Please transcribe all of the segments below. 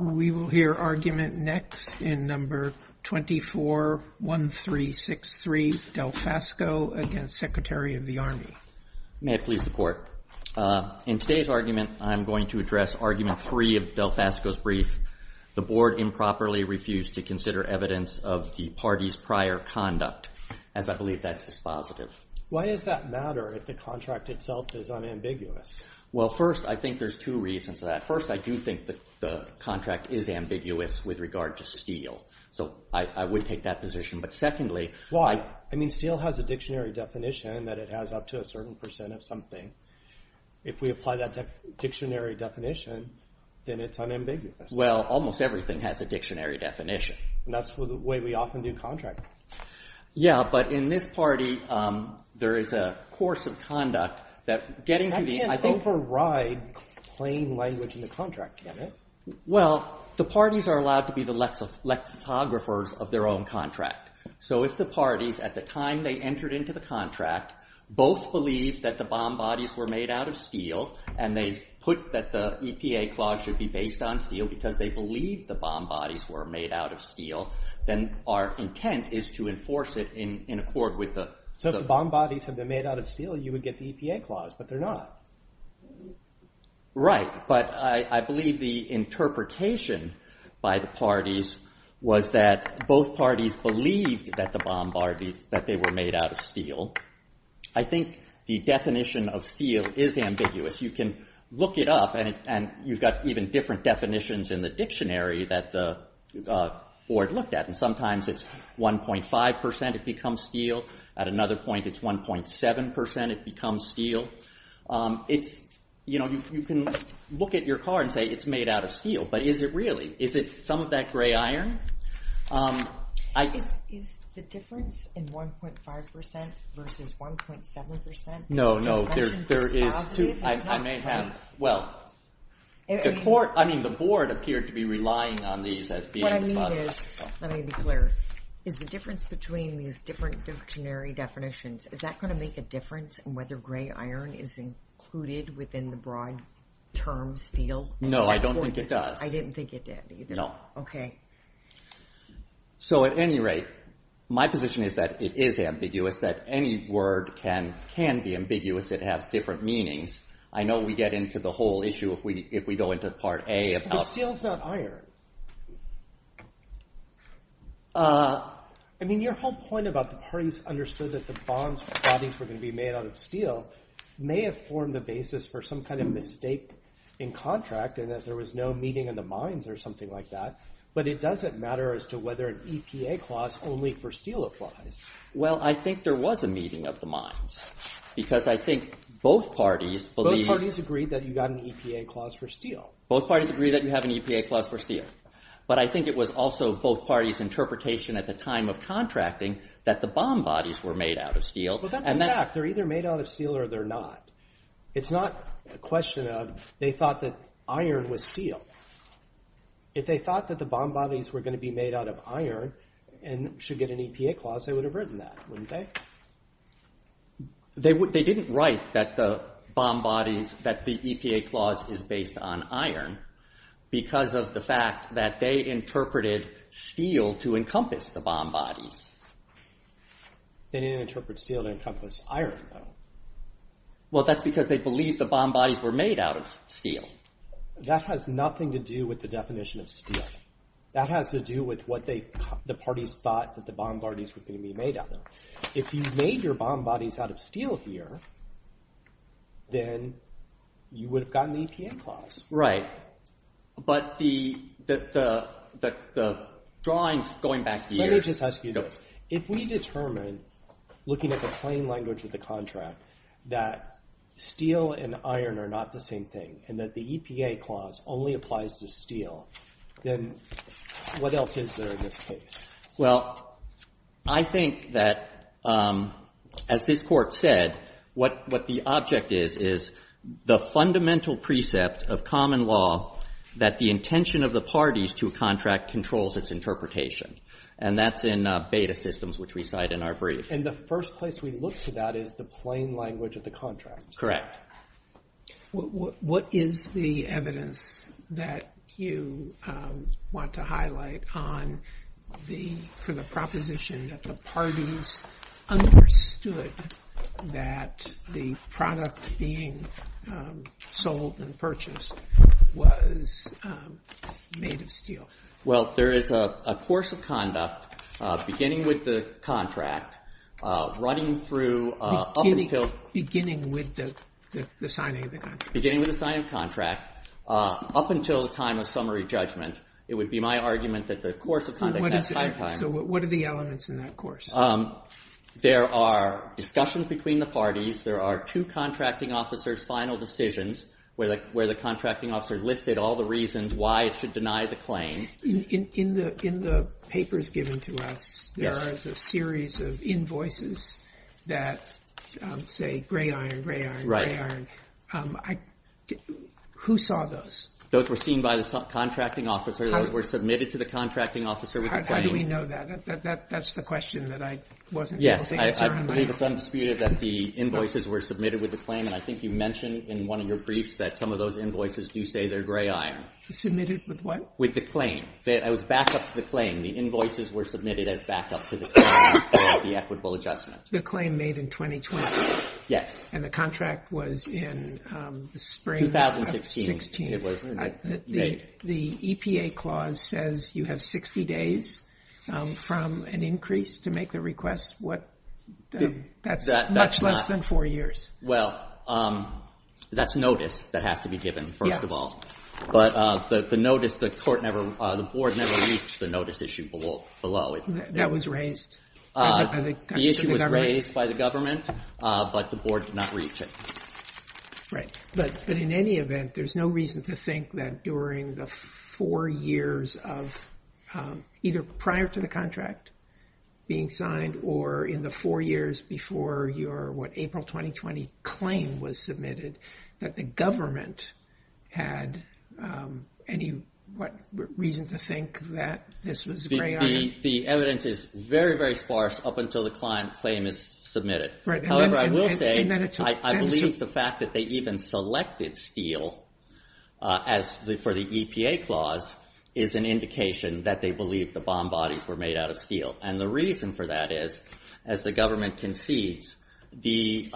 We will hear argument next in number 241363, Delfasco against Secretary of the Army. May I please report? In today's argument, I'm going to address argument three of Delfasco's brief. The board improperly refused to consider evidence of the party's prior conduct, as I believe that's dispositive. Why does that matter if the contract itself is unambiguous? Well, first, I think there's two reasons for that. First, I do think the contract is ambiguous with regard to Steele. So I would take that position, but secondly… Why? I mean, Steele has a dictionary definition that it has up to a certain percent of something. If we apply that dictionary definition, then it's unambiguous. Well, almost everything has a dictionary definition. And that's the way we often do contract. Yeah, but in this party, there is a course of conduct that getting to the… You can't override plain language in the contract, can you? Well, the parties are allowed to be the lexicographers of their own contract. So if the parties, at the time they entered into the contract, both believed that the bomb bodies were made out of Steele and they put that the EPA clause should be based on Steele because they believed the bomb bodies were made out of Steele, then our intent is to enforce it in accord with the… So if the bomb bodies had been made out of Steele, you would get the EPA clause, but they're not. Right, but I believe the interpretation by the parties was that both parties believed that the bomb bodies, that they were made out of Steele. I think the definition of Steele is ambiguous. You can look it up and you've got even different definitions in the dictionary that the board looked at. Sometimes it's 1.5 percent, it becomes Steele. At another point, it's 1.7 percent, it becomes Steele. You can look at your card and say it's made out of Steele, but is it really? Is it some of that gray iron? Is the difference in 1.5 percent versus 1.7 percent? No, no, there is. I may have… Well, the board appeared to be relying on these as being dispositive. What I mean is, let me be clear, is the difference between these different dictionary definitions, is that going to make a difference in whether gray iron is included within the broad term Steele? No, I don't think it does. I didn't think it did either. No. Okay. So at any rate, my position is that it is ambiguous, that any word can be ambiguous, it has different meanings. I know we get into the whole issue if we go into part A about… Steele is not iron. I mean, your whole point about the parties understood that the bonds were going to be made out of Steele may have formed the basis for some kind of mistake in contract and that there was no meeting of the minds or something like that, but it doesn't matter as to whether an EPA clause only for Steele applies. Well, I think there was a meeting of the minds because I think both parties believe… Both parties agree that you got an EPA clause for Steele. Both parties agree that you have an EPA clause for Steele, but I think it was also both parties' interpretation at the time of contracting that the bond bodies were made out of Steele. Well, that's a fact. They're either made out of Steele or they're not. It's not a question of they thought that iron was Steele. If they thought that the bond bodies were going to be made out of iron and should get an EPA clause, they would have written that, wouldn't they? They didn't write that the bond bodies, that the EPA clause is based on iron because of the fact that they interpreted Steele to encompass the bond bodies. They didn't interpret Steele to encompass iron, though. Well, that's because they believed the bond bodies were made out of Steele. That has nothing to do with the definition of Steele. That has to do with what the parties thought that the bond bodies were going to be made out of. If you made your bond bodies out of Steele here, then you would have gotten the EPA clause. But the drawings going back years… Let me just ask you this. If we determine, looking at the plain language of the contract, that Steele and iron are not the same thing and that the EPA clause only applies to Steele, then what else is there in this case? Well, I think that, as this Court said, what the object is is the fundamental precept of common law that the intention of the parties to a contract controls its interpretation. And that's in Beta Systems, which we cite in our brief. And the first place we look to that is the plain language of the contract. Correct. What is the evidence that you want to highlight for the proposition that the parties understood that the product being sold and purchased was made of Steele? Well, there is a course of conduct, beginning with the contract, running through up until… Beginning with the signing of the contract. Beginning with the signing of the contract, up until the time of summary judgment. It would be my argument that the course of conduct in that time… So what are the elements in that course? There are discussions between the parties. There are two contracting officers' final decisions where the contracting officer listed all the reasons why it should deny the claim. In the papers given to us, there is a series of invoices that say gray iron, gray iron, gray iron. Who saw those? Those were seen by the contracting officer. Those were submitted to the contracting officer with the claim. How do we know that? That's the question that I wasn't able to answer on my own. Yes, I believe it's undisputed that the invoices were submitted with the claim. And I think you mentioned in one of your briefs that some of those invoices do say they're gray iron. Submitted with what? With the claim. It was back-up to the claim. The invoices were submitted as back-up to the claim for the equitable adjustment. The claim made in 2020? Yes. And the contract was in the spring of 2016? 2016, it was made. The EPA clause says you have 60 days from an increase to make the request. That's much less than four years. Well, that's notice that has to be given, first of all. But the notice, the board never reached the notice issue below. That was raised? The issue was raised by the government, but the board did not reach it. Right. But in any event, there's no reason to think that during the four years of either prior to the contract being signed or in the four years before your, what, April 2020 claim was submitted, that the government had any, what, reason to think that this was gray iron? The evidence is very, very sparse up until the claim is submitted. Right. However, I will say, I believe the fact that they even selected steel for the EPA clause is an indication that they believe the bomb bodies were made out of steel. And the reason for that is, as the government concedes, the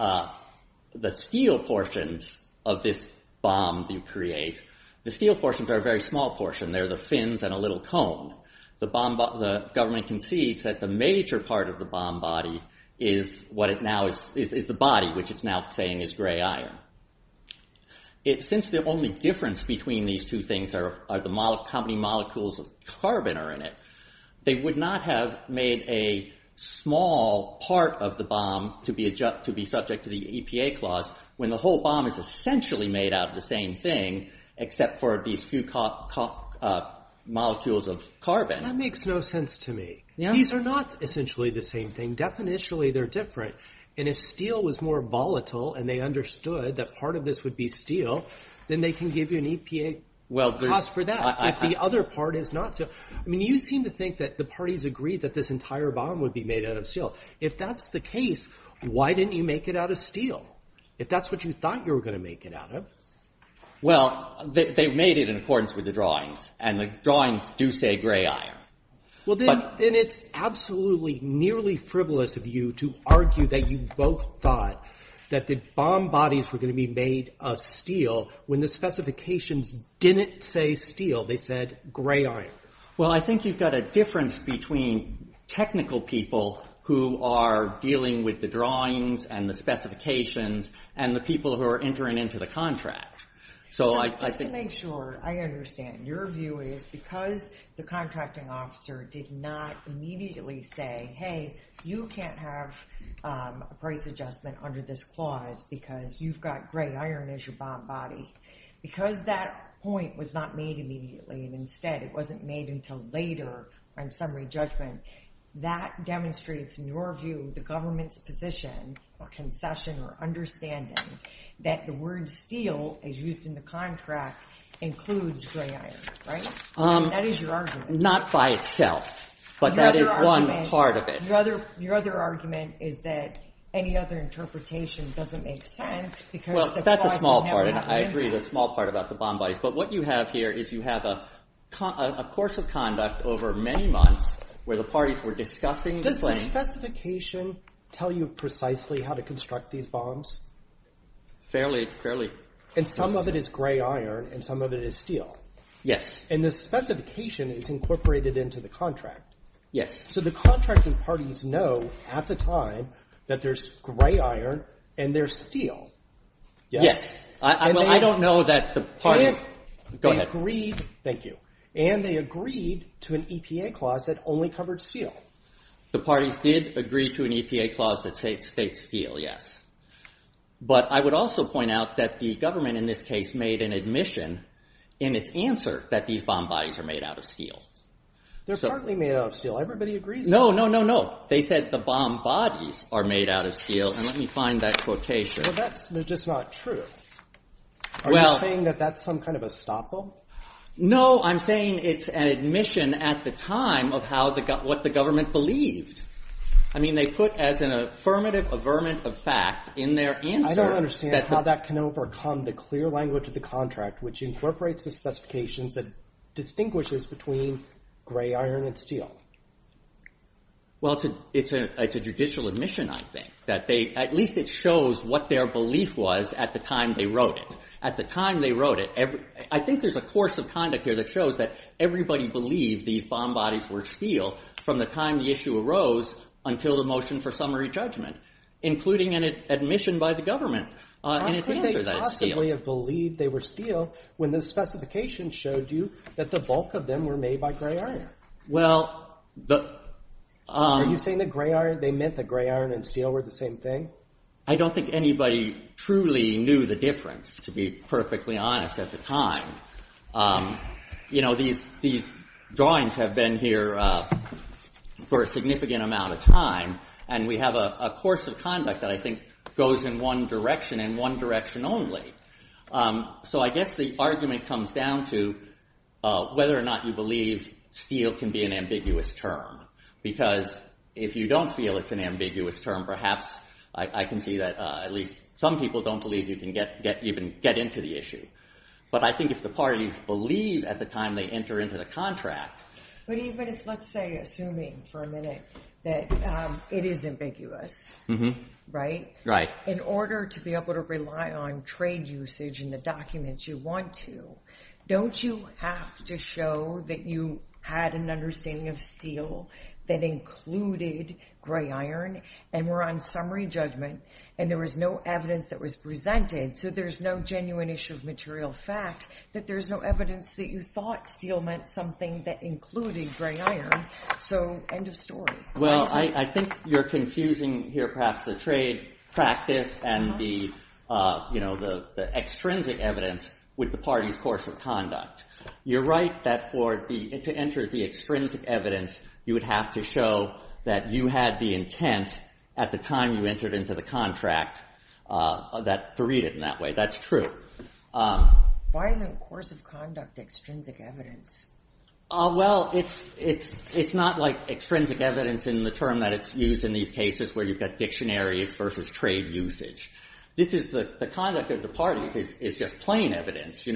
steel portions of this bomb you create, the steel portions are a very small portion. They're the fins and a little cone. The bomb, the government concedes that the major part of the bomb body is what it now is, is the body, which it's now saying is gray iron. It, since the only difference between these two things are, are the molecules, how many molecules of carbon are in it, they would not have made a small part of the bomb to be subject to the EPA clause when the whole bomb is essentially made out of the same thing, except for these few molecules of carbon. That makes no sense to me. These are not essentially the same thing. Definitionally, they're different. And if steel was more volatile and they understood that part of this would be steel, then they can give you an EPA clause for that. If the other part is not so. I mean, you seem to think that the parties agree that this entire bomb would be made out of steel. If that's the case, why didn't you make it out of steel? If that's what you thought you were going to make it out of. Well, they made it in accordance with the drawings, and the drawings do say gray iron. Well, then it's absolutely nearly frivolous of you to argue that you both thought that the bomb bodies were going to be made of steel when the specifications didn't say steel. They said gray iron. Well, I think you've got a difference between technical people who are dealing with the drawings and the specifications and the people who are entering into the contract. Just to make sure, I understand. Your view is because the contracting officer did not immediately say, hey, you can't have a price adjustment under this clause because you've got gray iron as your bomb body. Because that point was not made immediately, and instead it wasn't made until later on summary judgment, that demonstrates, in your view, the government's position or concession or understanding that the word steel, as used in the contract, includes gray iron, right? That is your argument. Not by itself, but that is one part of it. Your other argument is that any other interpretation doesn't make sense Well, that's a small part, and I agree. It's a small part about the bomb bodies. But what you have here is you have a course of conduct over many months where the parties were discussing the claim. Does the specification tell you precisely how to construct these bombs? Fairly. And some of it is gray iron and some of it is steel. Yes. And the specification is incorporated into the contract. Yes. So the contracting parties know at the time that there's gray iron and there's steel. Well, I don't know that the parties. Go ahead. Thank you. And they agreed to an EPA clause that only covered steel. The parties did agree to an EPA clause that states steel, yes. But I would also point out that the government in this case made an admission in its answer that these bomb bodies are made out of steel. They're partly made out of steel. Everybody agrees. No, no, no, no. They said the bomb bodies are made out of steel. And let me find that quotation. Well, that's just not true. Are you saying that that's some kind of estoppel? No, I'm saying it's an admission at the time of what the government believed. I mean, they put as an affirmative averment of fact in their answer. I don't understand how that can overcome the clear language of the contract which incorporates the specifications that distinguishes between gray iron and steel. Well, it's a judicial admission, I think, that at least it shows what their belief was at the time they wrote it. At the time they wrote it, I think there's a course of conduct here that shows that everybody believed these bomb bodies were steel from the time the issue arose until the motion for summary judgment, including an admission by the government in its answer that it's steel. How could they possibly have believed they were steel when the specification showed you that the bulk of them were made by gray iron? Well, the... Are you saying they meant that gray iron and steel were the same thing? I don't think anybody truly knew the difference, to be perfectly honest, at the time. You know, these drawings have been here for a significant amount of time, and we have a course of conduct that I think goes in one direction and one direction only. So I guess the argument comes down to whether or not you believe steel can be an ambiguous term because if you don't feel it's an ambiguous term, perhaps I can see that at least some people don't believe you can get into the issue. But I think if the parties believe at the time they enter into the contract... But even if, let's say, assuming for a minute that it is ambiguous, right? Right. In order to be able to rely on trade usage in the documents you want to, don't you have to show that you had an understanding of steel that included gray iron and were on summary judgment and there was no evidence that was presented, so there's no genuine issue of material fact, that there's no evidence that you thought steel meant something that included gray iron? So, end of story. Well, I think you're confusing here perhaps the trade practice and the extrinsic evidence with the party's course of conduct. You're right that to enter the extrinsic evidence, you would have to show that you had the intent at the time you entered into the contract to read it in that way. That's true. Why isn't course of conduct extrinsic evidence? Well, it's not like extrinsic evidence in the term that it's used in these cases where you've got dictionaries versus trade usage. The conduct of the parties is just plain evidence.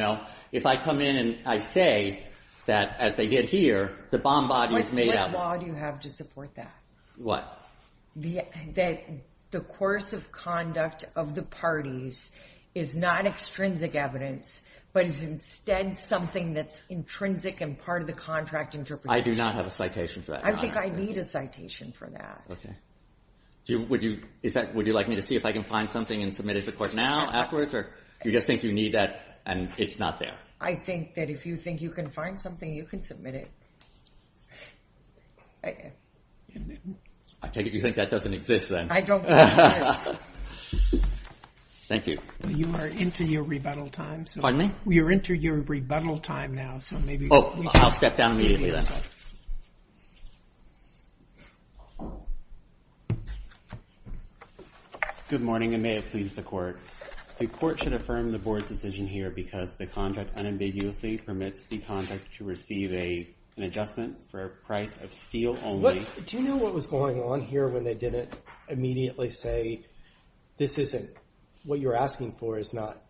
If I come in and I say that as they get here, the bomb body is made up... What law do you have to support that? What? That the course of conduct of the parties is not extrinsic evidence but is instead something that's intrinsic and part of the contract interpretation. I do not have a citation for that. I think I need a citation for that. Would you like me to see if I can find something and submit it to the court now afterwards or do you just think you need that and it's not there? I think that if you think you can find something, you can submit it. I take it you think that doesn't exist then. I don't think it does. Thank you. You are into your rebuttal time. Pardon me? You're into your rebuttal time now. I'll step down immediately then. Good morning and may it please the court. The court should affirm the board's decision here because the contract unambiguously permits the contract to receive an adjustment for a price of steel only. Do you know what was going on here when they didn't immediately say what you're asking for is not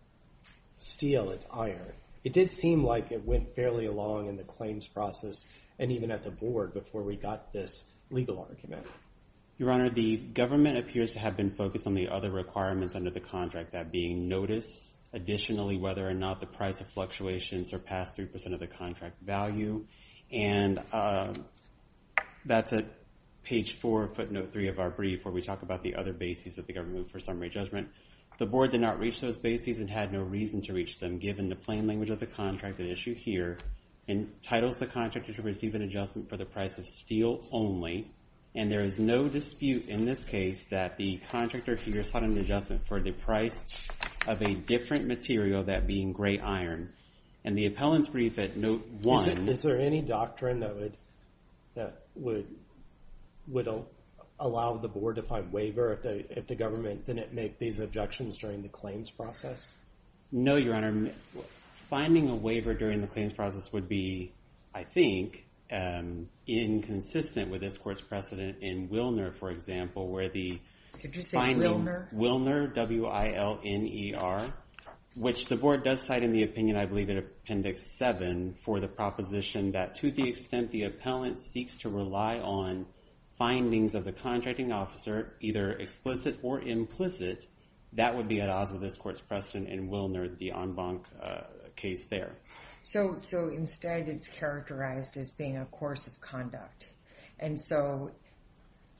steel, it's iron. It did seem like it went fairly along in the claims process and even at the board before we got this legal argument. Your Honor, the government appears to have been focused on the other requirements under the contract, that being notice, additionally, whether or not the price of fluctuation surpassed 3% of the contract value. And that's at page 4, footnote 3 of our brief before we talk about the other bases that the government moved for summary judgment. The board did not reach those bases and had no reason to reach them given the plain language of the contract at issue here entitles the contractor to receive an adjustment for the price of steel only. And there is no dispute in this case that the contractor here sought an adjustment for the price of a different material, that being gray iron. And the appellant's brief at note 1. Is there any doctrine that would allow the board to find waiver if the government didn't make these objections during the claims process? No, Your Honor. Finding a waiver during the claims process would be, I think, inconsistent with this court's precedent in Wilner, for example, where the findings... Did you say Wilner? Wilner, W-I-L-N-E-R, which the board does cite in the opinion, I believe, in Appendix 7 for the proposition that to the extent the appellant seeks to rely on findings of the contracting officer, either explicit or implicit, that would be at odds with this court's precedent in Wilner, the en banc case there. So instead it's characterized as being a course of conduct. And so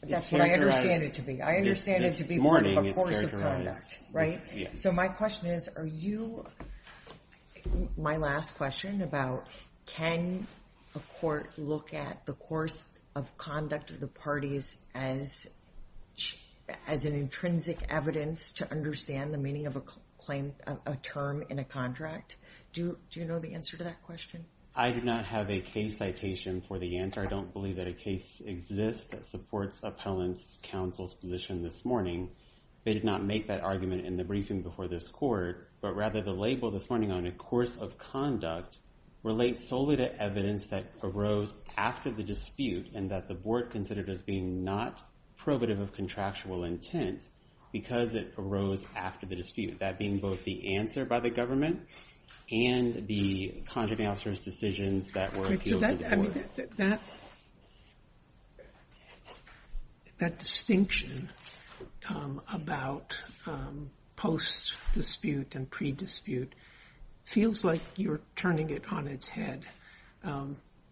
that's what I understand it to be. I understand it to be more of a course of conduct. So my question is, are you... My last question about can a court look at the course of conduct of the parties as an intrinsic evidence to understand the meaning of a term in a contract? Do you know the answer to that question? I do not have a case citation for the answer. I don't believe that a case exists that supports appellant's counsel's position this morning. They did not make that argument in the briefing before this court, but rather the label this morning on a course of conduct relates solely to evidence that arose after the dispute and that the board considered as being not probative of contractual intent because it arose after the dispute, that being both the answer by the government and the contracting officer's decisions that were appealed to the board. So that distinction about post-dispute and pre-dispute feels like you're turning it on its head.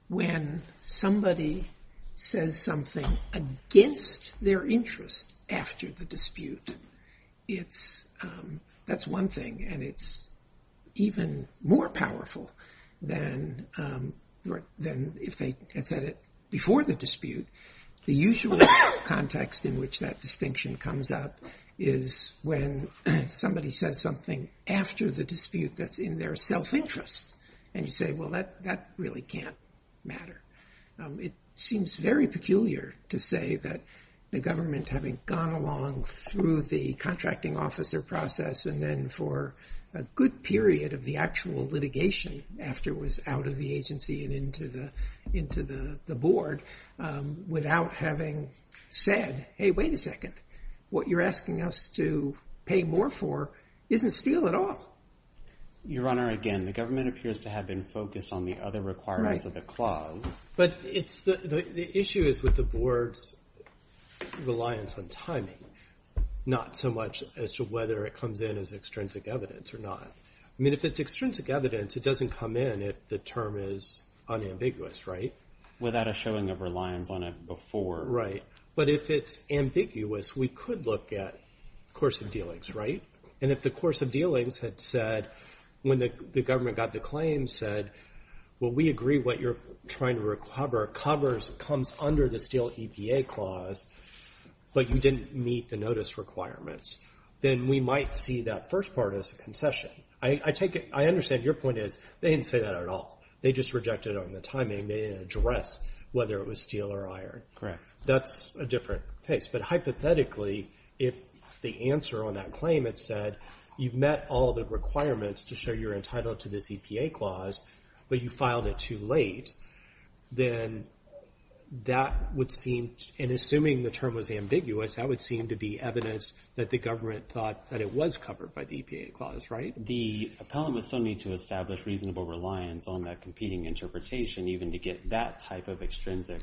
When somebody says something against their interest after the dispute, that's one thing, and it's even more powerful than if they had said it before the dispute. The usual context in which that distinction comes up is when somebody says something after the dispute that's in their self-interest, and you say, well, that really can't matter. It seems very peculiar to say that the government, having gone along through the contracting officer process and then for a good period of the actual litigation after it was out of the agency and into the board, without having said, hey, wait a second, what you're asking us to pay more for isn't steel at all. Your Honor, again, the government appears to have been focused on the other requirements of the clause. But the issue is with the board's reliance on timing, not so much as to whether it comes in as extrinsic evidence or not. I mean, if it's extrinsic evidence, it doesn't come in if the term is unambiguous, right? Without a showing of reliance on it before. Right. But if it's ambiguous, we could look at course of dealings, right? And if the course of dealings had said, when the government got the claim, said, well, we agree what you're trying to cover comes under the steel EPA clause, but you didn't meet the notice requirements, then we might see that first part as a concession. I understand your point is they didn't say that at all. They just rejected it on the timing. They didn't address whether it was steel or iron. That's a different case. But hypothetically, if the answer on that claim had said, you've met all the requirements to show you're entitled to this EPA clause, but you filed it too late, then that would seem, and assuming the term was ambiguous, that would seem to be evidence that the government thought that it was covered by the EPA clause, right? The appellant would still need to establish reasonable reliance on that competing interpretation even to get that type of extrinsic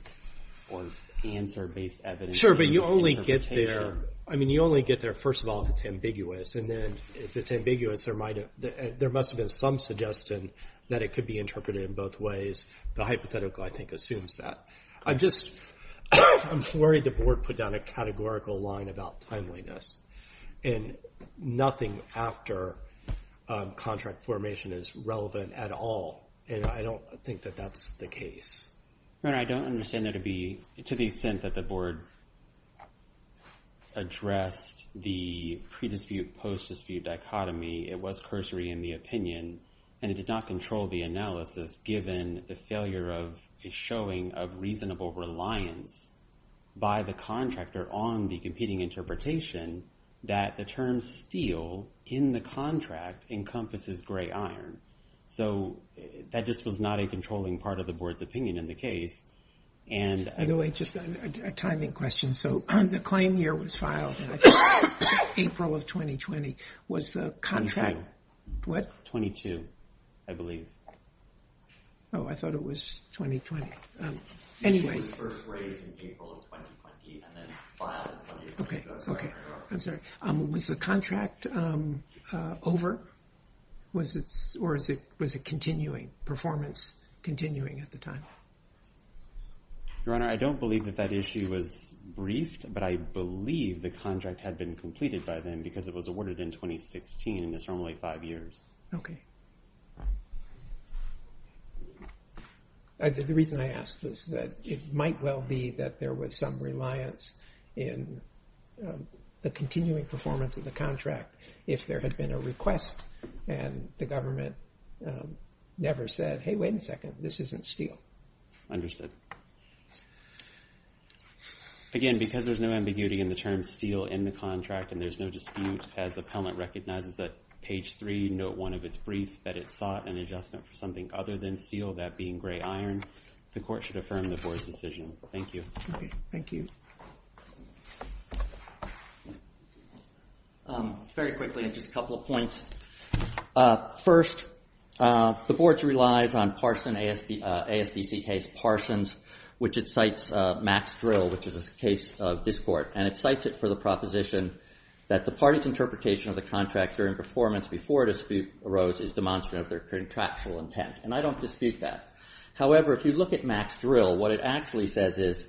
or answer-based evidence. Sure, but you only get there. I mean, you only get there, first of all, if it's ambiguous. And then if it's ambiguous, there must have been some suggestion that it could be interpreted in both ways. The hypothetical, I think, assumes that. I'm just worried the board put down a categorical line about timeliness, and nothing after contract formation is relevant at all. And I don't think that that's the case. I don't understand to the extent that the board addressed the pre-dispute, post-dispute dichotomy. It was cursory in the opinion, and it did not control the analysis, given the failure of a showing of reasonable reliance by the contractor on the competing interpretation that the term steel in the contract encompasses gray iron. So that just was not a controlling part of the board's opinion in the case. By the way, just a timing question. So the claim here was filed in April of 2020. Was the contract... Twenty-two. What? Twenty-two, I believe. Oh, I thought it was 2020. Anyway... It was first raised in April of 2020 and then filed in 2020. I'm sorry. I'm sorry. Was the contract over? Or was it continuing, performance continuing at the time? Your Honor, I don't believe that that issue was briefed, but I believe the contract had been completed by then because it was awarded in 2016, and it's normally five years. Okay. The reason I ask this is that it might well be that there was some reliance in the continuing performance of the contract if there had been a request and the government never said, hey, wait a second, this isn't steel. Understood. Again, because there's no ambiguity in the term steel in the contract and there's no dispute as the appellant recognizes that page three, note one of its brief, that it sought an adjustment for something other than steel, that being gray iron, the court should affirm the board's decision. Thank you. Okay. Thank you. Very quickly, just a couple of points. First, the board relies on Parsons, ASBCK's Parsons, which it cites Max Drill, which is a case of this court, and it cites it for the proposition that the party's interpretation of the contract during performance before a dispute arose is demonstrative of their contractual intent, and I don't dispute that. However, if you look at Max Drill, what it actually says is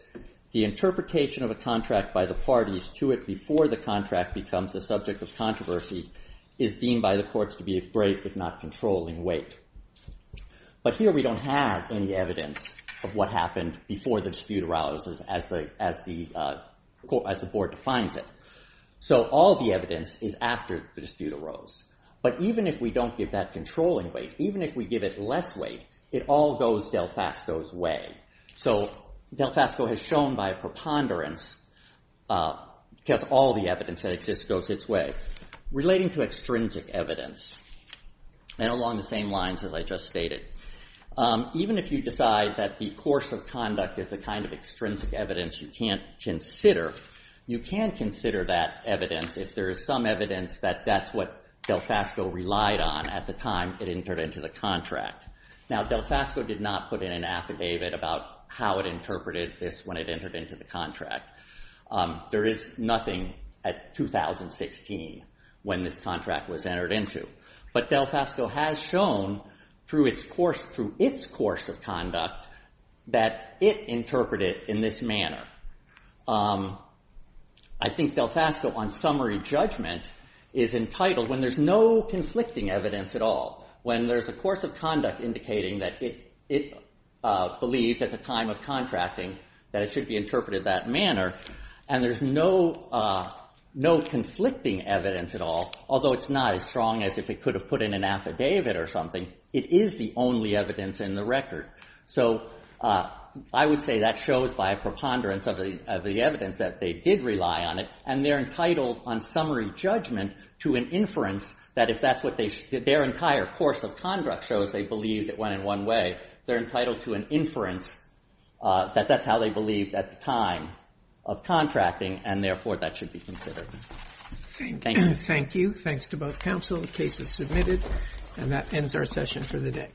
the interpretation of a contract by the parties to it before the contract becomes the subject of controversy is deemed by the courts to be a break if not controlling weight. But here we don't have any evidence of what happened before the dispute arose as the board defines it. So all the evidence is after the dispute arose. But even if we don't give that controlling weight, even if we give it less weight, it all goes Delfasco's way. So Delfasco has shown by preponderance that all the evidence that exists goes its way. Relating to extrinsic evidence, and along the same lines as I just stated, even if you decide that the course of conduct is a kind of extrinsic evidence you can't consider, you can consider that evidence if there is some evidence that that's what Delfasco relied on at the time it entered into the contract. Now, Delfasco did not put in an affidavit about how it interpreted this when it entered into the contract. There is nothing at 2016 when this contract was entered into. But Delfasco has shown through its course of conduct that it interpreted in this manner. I think Delfasco on summary judgment is entitled, when there's no conflicting evidence at all, when there's a course of conduct indicating that it believed at the time of contracting that it should be interpreted that manner, and there's no conflicting evidence at all, although it's not as strong as if it could have put in an affidavit or something, it is the only evidence in the record. So I would say that shows by preponderance of the evidence that they did rely on it, and they're entitled on summary judgment to an inference that if that's what their entire course of conduct shows they believed it went in one way, they're entitled to an inference that that's how they believed at the time of contracting, and therefore that should be considered. Thank you. Thank you. Thanks to both counsel. The case is submitted. And that ends our session for the day.